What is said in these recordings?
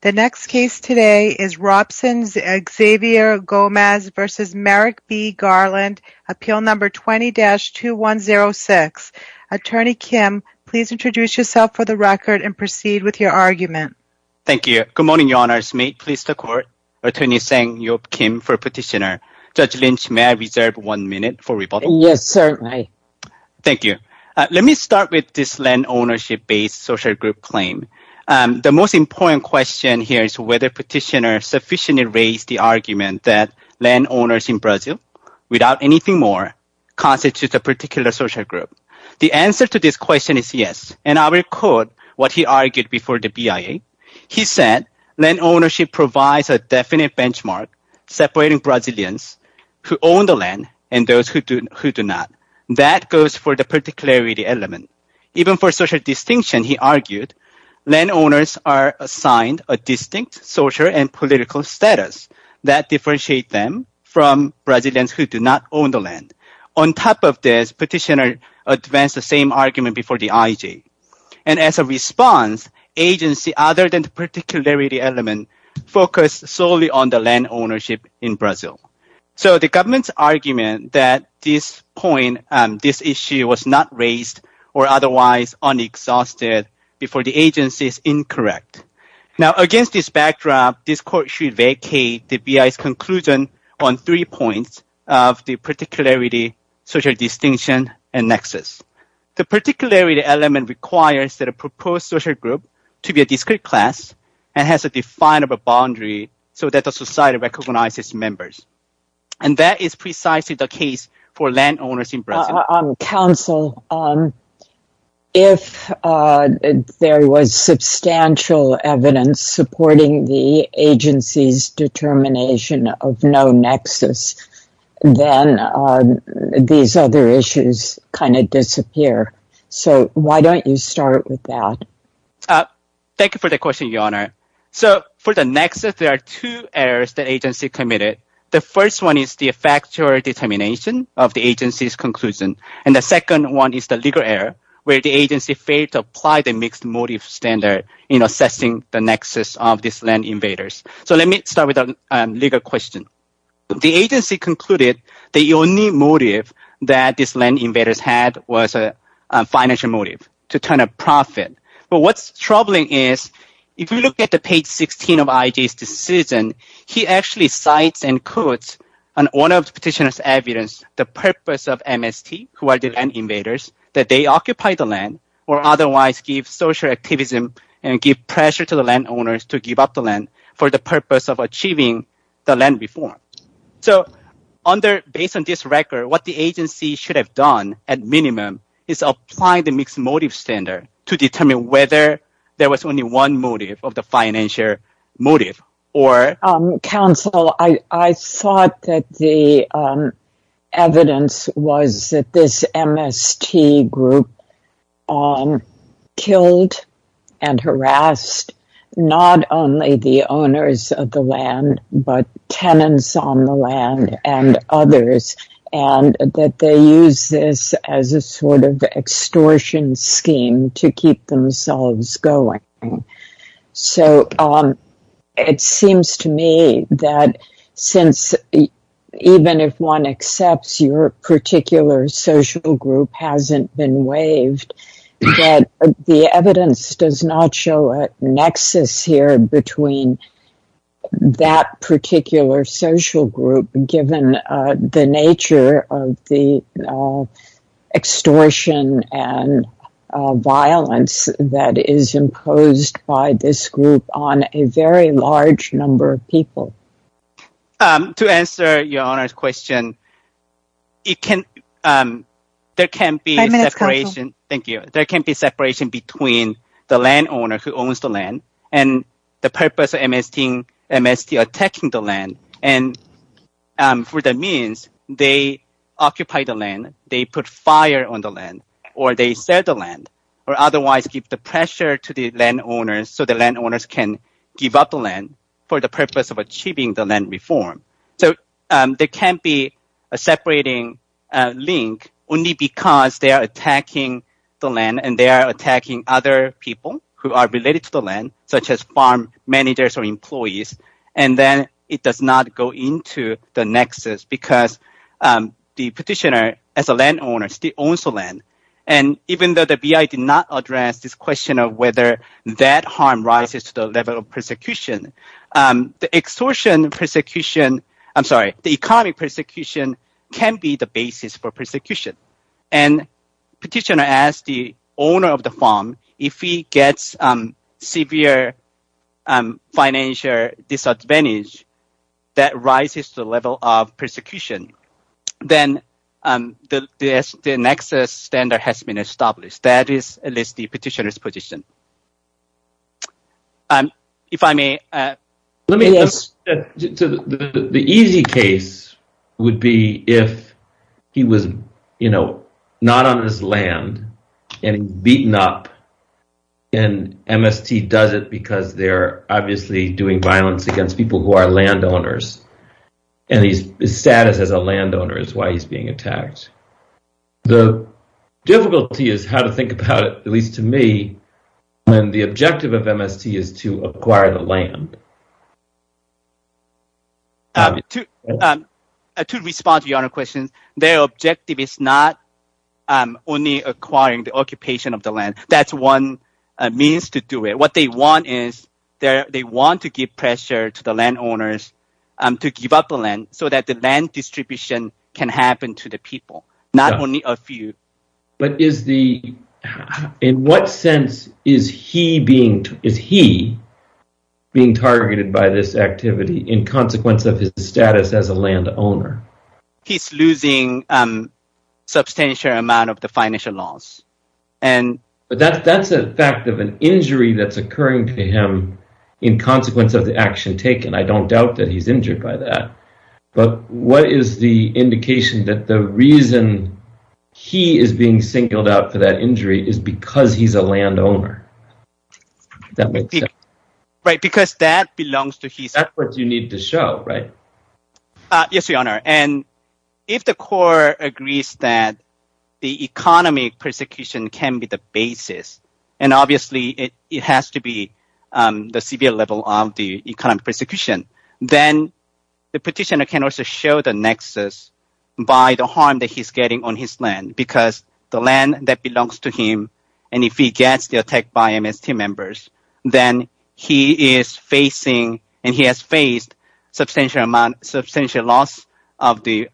The next case today is Robson v. Xavier Gomez v. Merrick B. Garland, Appeal No. 20-2106. Attorney Kim, please introduce yourself for the record and proceed with your argument. Thank you. Good morning, Your Honors. May it please the Court? Attorney Sang-Yop Kim for Petitioner. Judge Lynch, may I reserve one minute for rebuttal? Yes, certainly. Thank you. Let me start with this land ownership-based social group claim. The most important question here is whether Petitioner sufficiently raised the argument that landowners in Brazil, without anything more, constitute a particular social group. The answer to this question is yes, and I will quote what he argued before the BIA. He said, land ownership provides a definite benchmark separating Brazilians who own the land and those who do not. That goes for the particularity element. Even for social distinction, he argued, landowners are assigned a distinct social and political status that differentiate them from Brazilians who do not own the land. On top of this, Petitioner advanced the same argument before the IJ. And as a response, agency, other than the particularity element, focused solely on the land ownership in Brazil. So the government's argument that at this point, this issue was not raised or otherwise unexhausted before the agency is incorrect. Now against this backdrop, this court should vacate the BIA's conclusion on three points of the particularity, social distinction, and nexus. The particularity element requires that a proposed social group to be a discrete class and has a definable boundary so that the society recognizes members. And that is precisely the case for landowners in Brazil. Counsel, if there was substantial evidence supporting the agency's determination of no nexus, then these other issues kind of disappear. So why don't you start with that? Thank you for the question, Your Honor. So for the nexus, there are two errors the agency committed. The first one is the factual determination of the agency's conclusion. And the second one is the legal error where the agency failed to apply the mixed motive standard in assessing the nexus of these land invaders. So let me start with a legal question. The agency concluded the only motive that these land invaders had was a financial motive to turn a profit. But what's troubling is if you look at the page 16 of IJ's decision, he actually cites and quotes an owner of the petitioner's evidence, the purpose of MST, who are the land invaders, that they occupy the land or otherwise give social activism and give pressure to the landowners to give up the land for the purpose of achieving the land reform. So based on this record, what the agency should have done at minimum is apply the mixed motive standard to determine whether there was only one motive of the financial motive or... Counsel, I thought that the evidence was that this MST group killed and harassed not only the owners of the land, but tenants on the land and others, and that they use this as a sort of extortion scheme to keep themselves going. So it seems to me that since even if one accepts your particular social group hasn't been waived, that the evidence does not show a nexus here between that particular social group, given the nature of the extortion and violence that is imposed by this group on a very large number of people. To answer your Honour's question, there can be separation between the landowner who owns the land and the purpose of MST attacking the land, and for that means they occupy the land, they put fire on the land, or they sell the land, or otherwise give the pressure to the landowners so the landowners can give up the land for the purpose of achieving the land reform. So there can't be a separating link only because they are attacking the land and they are attacking other people who are related to the land, such as farm managers or employees, and then it does not go into the nexus because the petitioner as a landowner still owns the land, and even though the BI did not address this question of whether that harm rises to the level of persecution, the extortion persecution, I'm sorry, the economic persecution can be the basis for persecution, and petitioner as the owner of the farm, if he gets severe financial disadvantage, that rises to the level of persecution, then the nexus standard has been established. That is at least the petitioner's position. If I may... The easy case would be if he was, you know, not on his land and beaten up, and MST does it because they're obviously doing violence against people who are landowners, and his status as a landowner is why he's being attacked. The difficulty is how to think about it, at least to me, when the objective of MST is to acquire the land. To respond to your question, their objective is not only acquiring the occupation of the land. That's one means to do it. What they want is they want to give pressure to the landowners to give up the land so that the land distribution can happen to the people, not only a few. But in what sense is he being targeted by this activity in consequence of his status as a landowner? He's losing a substantial amount of the financial loss. But that's a fact of an injury that's occurring to him in consequence of the action taken. I don't doubt that he's injured by that. But what is the indication that the reason he is being singled out for that injury is because he's a landowner? That makes sense. Right, because that belongs to his... That's what you need to show, right? Yes, Your Honor. And if the court agrees that the economic persecution can be the basis, and obviously it has to be the severe level of the persecution, then the petitioner can also show the nexus by the harm that he's getting on his land, because the land that belongs to him, and if he gets the attack by MST members, then he is facing and he has faced substantial loss of the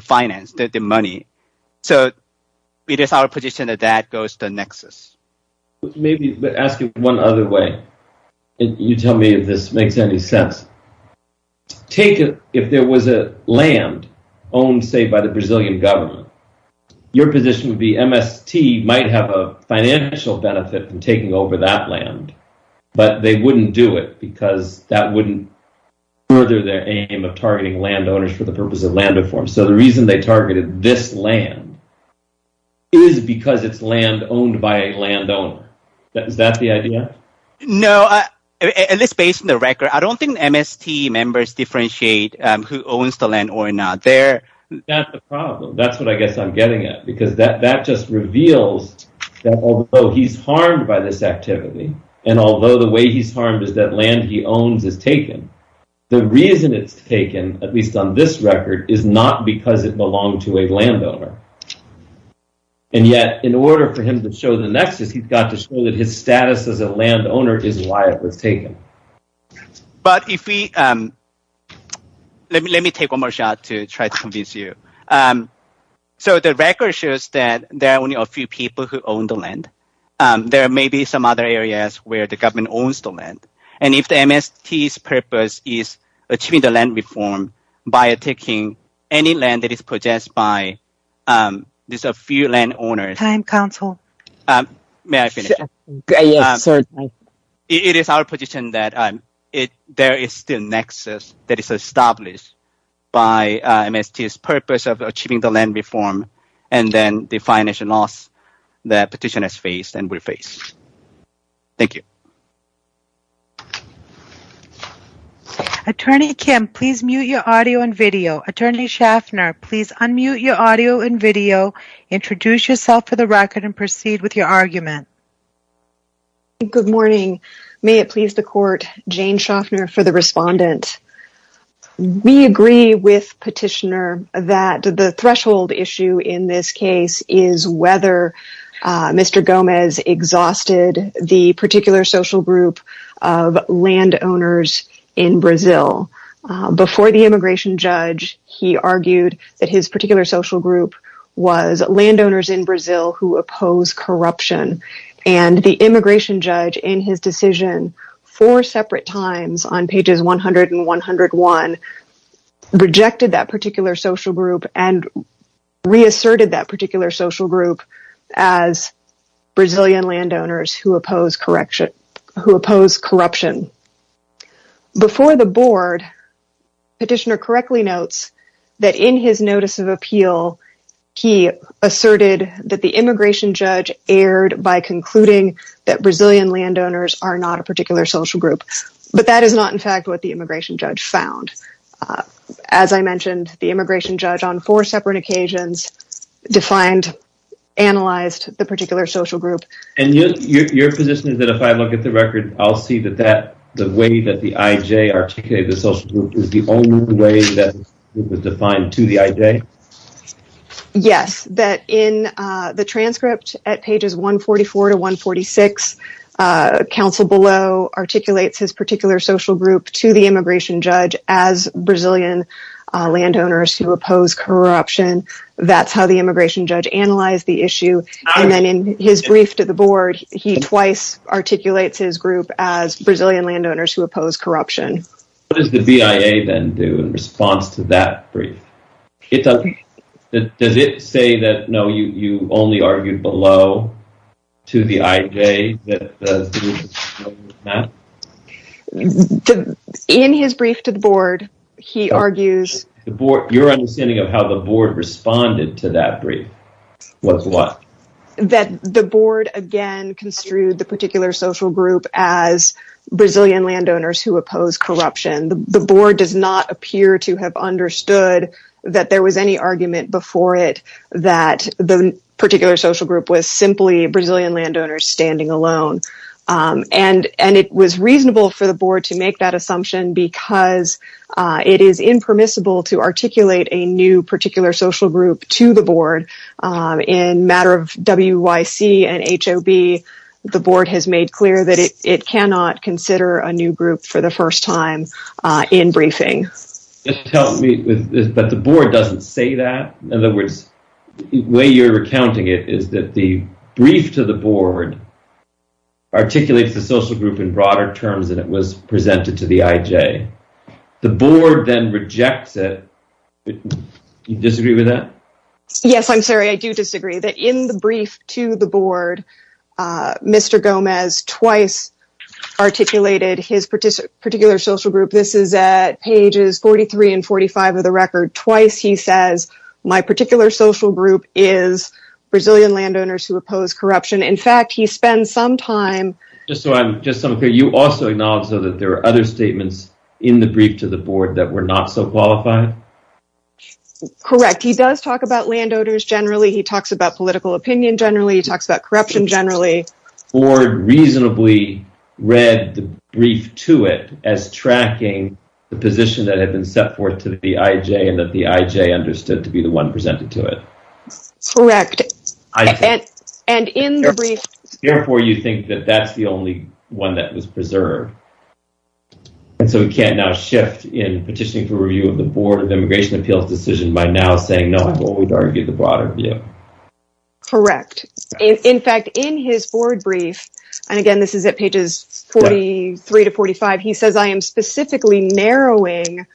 finance, the money. So it is our position that that goes the nexus. Maybe, but ask it one other way. You tell me if this makes any sense. Take it, if there was a land owned, say, by the Brazilian government, your position would be MST might have a financial benefit from taking over that land, but they wouldn't do it because that wouldn't further their aim of targeting landowners for the purpose of land reform. So the reason they targeted this land is because it's land owned by a landowner. Is that the idea? No, at least based on the record, I don't think MST members differentiate who owns the land or not. That's the problem. That's what I guess I'm getting at, because that just reveals that although he's harmed by this activity, and although the way he's harmed is that land he owns is taken, the reason it's taken, at least on this record, is not because it belonged to a landowner. And yet, in order for him to show the nexus, he's got to show that his status as a landowner is why it was taken. But if we, let me take one more shot to try to convince you. So the record shows that there are only a few people who own the land. There may be some other areas where the government owns the land. And if the MST's purpose is achieving the land reform by taking any land that is purchased by just a few landowners, it is our position that there is still a nexus that is established by MST's purpose of achieving the land reform and then the financial loss that petitioners face and will face. Thank you. Attorney Kim, please mute your audio and video. Attorney Schaffner, please unmute your audio and video. Introduce yourself for the record and proceed with your argument. Good morning. May it please the court, Jane Schaffner for the respondent. We agree with Petitioner that the threshold issue in this case is whether Mr. Gomez exhausted the particular social group of landowners in Brazil. Before the immigration judge, he argued that his particular social group was landowners in Brazil who oppose corruption. And the immigration judge in his decision four separate times on pages 100 and 101 rejected that particular social group and reasserted that particular social group as Brazilian landowners who oppose corruption. Before the board, Petitioner correctly notes that in his notice of appeal, he asserted that the immigration judge erred by concluding that Brazilian landowners are not a particular social group. But that is not in fact what the immigration judge found. As I mentioned, the immigration judge on four separate occasions defined, analyzed the particular social group. And your position is that if I look at the record, I'll see that the way that the IJ articulated the social group is the only way that it was defined to the IJ? Yes, that in the transcript at pages 144 to 146, counsel below articulates his particular social group to the immigration judge as Brazilian landowners who oppose corruption. That's how the immigration judge analyzed the issue. And then in his brief to the board, he twice articulates his group as Brazilian landowners who oppose corruption. What does the BIA then do in response to that brief? Does it say that, no, you only argued below to the IJ? In his brief to the board, he argues... Your understanding of how the board responded to that brief was what? That the board again construed the particular social group as Brazilian landowners who oppose corruption. The board does not appear to have understood that there was any argument before it that the particular social group was simply Brazilian landowners standing alone. And it was reasonable for the board to make that assumption because it is impermissible to articulate a new social group to the board in matter of WYC and HOB. The board has made clear that it cannot consider a new group for the first time in briefing. But the board doesn't say that. In other words, the way you're recounting it is that the brief to the board articulates the social group in broader terms than it was presented to the IJ. The board then rejects it. Do you disagree with that? Yes, I'm sorry. I do disagree that in the brief to the board, Mr. Gomez twice articulated his particular social group. This is at pages 43 and 45 of the record. Twice he says, my particular social group is Brazilian landowners who oppose corruption. In fact, he spends some time. Just so I'm clear, you also acknowledge that there are other statements in the brief to the board that were not so qualified? Correct. He does talk about landowners generally. He talks about political opinion generally. He talks about corruption generally. The board reasonably read the brief to it as tracking the position that had been set forth to the IJ and that the IJ understood to be the one presented to it. Correct. And in the brief, therefore, you think that that's the only one that was preserved. And so we can't now shift in petitioning for review of the Board of Immigration Appeals decision by now saying, no, I won't argue the broader view. Correct. In fact, in his board brief, and again, this is at pages 43 to 45, he says, I am specifically narrowing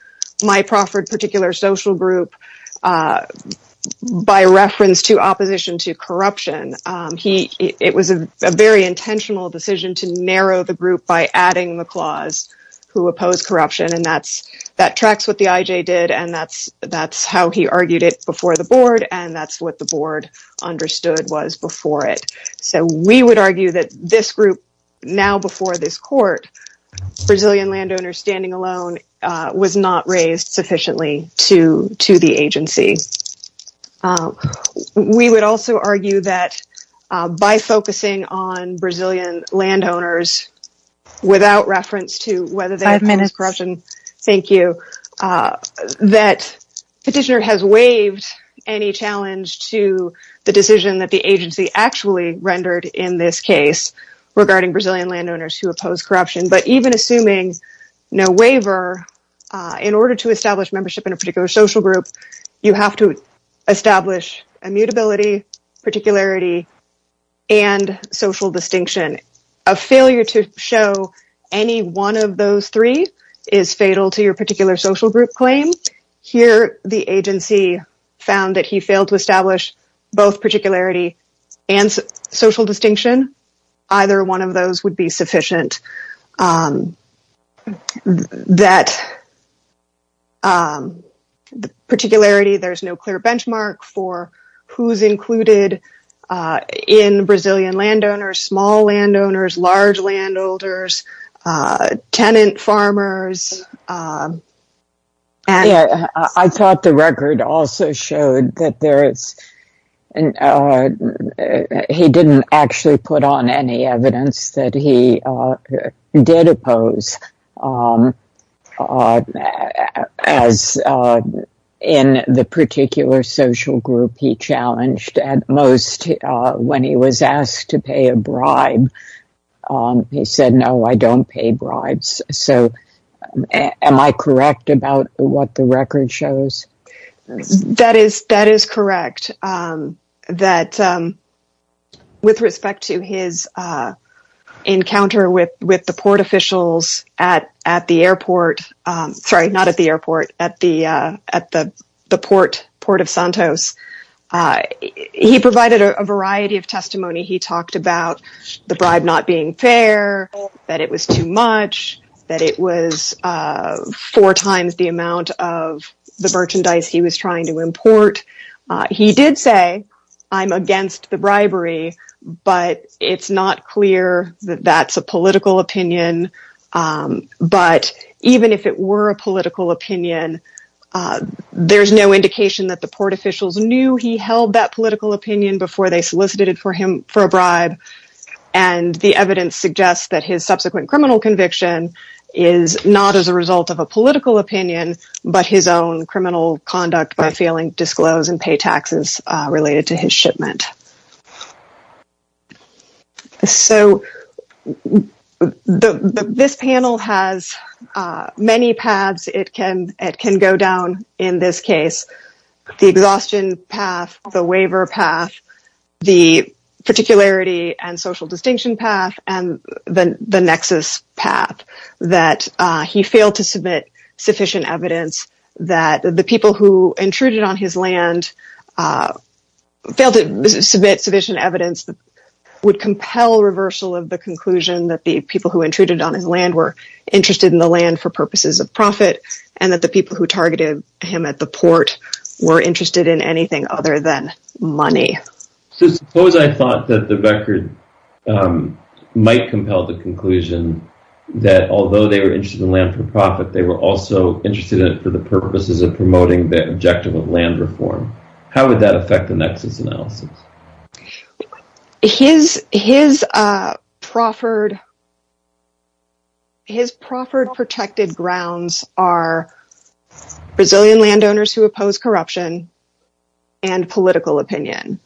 my proffered particular social group by reference to opposition to corruption. It was a very intentional decision to narrow the group by adding the clause who oppose corruption. And that tracks what the IJ did. And that's how he argued it before the board. And that's what the board understood was before it. So we would argue that this group now before this court, Brazilian landowners standing alone was not raised sufficiently to the agency. We would also argue that by focusing on Brazilian landowners without reference to whether they have corruption. Thank you. That petitioner has waived any challenge to the decision that the agency actually rendered in this case regarding Brazilian landowners who oppose corruption. But even assuming no waiver, in order to establish membership in a particular social group, you have to establish immutability, particularity, and social distinction. A failure to show any one of those three is fatal to your particular social group claim. Here, the agency found that he failed to establish both particularity and social distinction. Either one of those would be sufficient. That particularity, there's no clear benchmark for who's included in Brazilian landowners, small landowners, large landholders, tenant farmers. Yeah, I thought the record also showed that he didn't actually put on any evidence that he did oppose. As in the particular social group, he challenged at most when he was asked to pay a bribe. He said, no, I don't pay bribes. So am I correct about what the record shows? That is correct. With respect to his encounter with the port officials at the airport, sorry, not at the airport, at the port of Santos, he provided a variety of testimony. He talked about the bribe not being fair, that it was too much, that it was four times the amount of the merchandise he was trying to import. He did say, I'm against the bribery, but it's not clear that that's a political opinion. But even if it were a political opinion, there's no indication that the port officials knew he held that political opinion before they solicited for him for a bribe. And the evidence suggests that his subsequent criminal conviction is not as a result of a political opinion, but his own criminal conduct by failing to disclose and pay taxes related to his shipment. So this panel has many paths it can go down in this case. The exhaustion path, the waiver path, the particularity and social distinction path, and then the nexus path that he failed to submit sufficient evidence that the people who intruded on his land failed to submit sufficient evidence would compel reversal of the conclusion that the people who intruded on his land were interested in the land for purposes of profit, and that the people who targeted him at the port were anything other than money. Suppose I thought that the record might compel the conclusion that although they were interested in land for profit, they were also interested in it for the purposes of promoting the objective of land reform. How would that affect the nexus analysis? His proffered protected grounds are Brazilian landowners who oppose corruption and political opinion.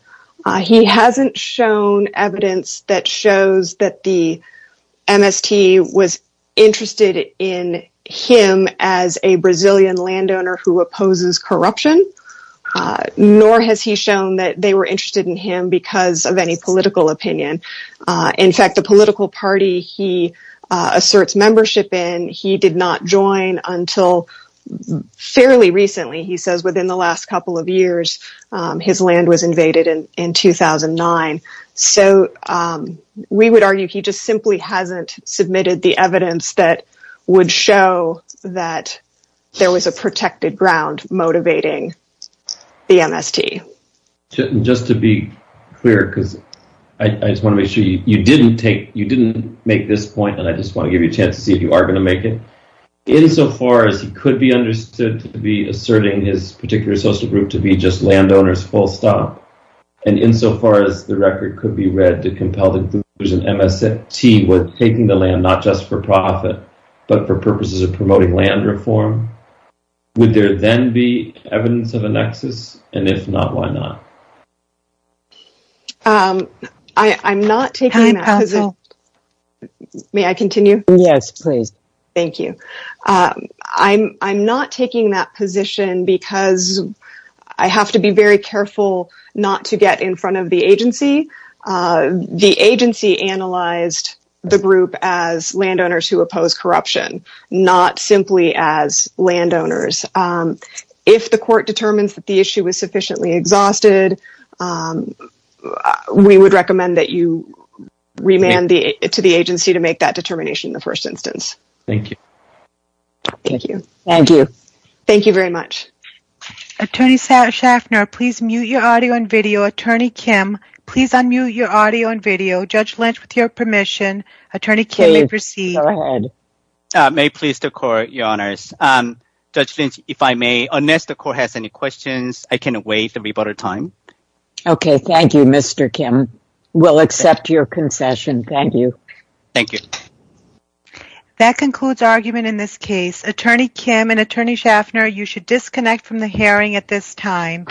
He hasn't shown evidence that shows that the MST was interested in him as a Brazilian landowner who opposes corruption, nor has he shown that they were interested in him because of any political opinion. In fact, the political party he asserts membership in, he did not join until fairly recently. He says within the last couple of years his land was invaded in 2009. So we would argue he just simply hasn't submitted the evidence that would show that there was a protected ground motivating the MST. And just to be clear, because I just want to make sure you didn't make this point, and I just want to give you a chance to see if you are going to make it, insofar as he could be understood to be asserting his particular social group to be just landowners full stop, and insofar as the record could be read to compel the conclusion MST was taking the land not just for profit, but for purposes of promoting land reform, would there then be evidence of a nexus? And if not, why not? I'm not taking that. May I continue? Yes, please. Thank you. I'm not taking that position because I have to be very careful not to get in front of the agency. The agency analyzed the group as landowners who oppose corruption, not simply as exhausted. We would recommend that you remand to the agency to make that determination in the first instance. Thank you. Thank you. Thank you. Thank you very much. Attorney Schaffner, please mute your audio and video. Attorney Kim, please unmute your audio and video. Judge Lynch, with your permission, Attorney Kim may proceed. May it please the court, Your Honors. Judge Lynch, if I may, unless the court has any questions, I can wait. There will be better time. Okay. Thank you, Mr. Kim. We'll accept your concession. Thank you. Thank you. That concludes argument in this case. Attorney Kim and Attorney Schaffner, you should disconnect from the hearing at this time.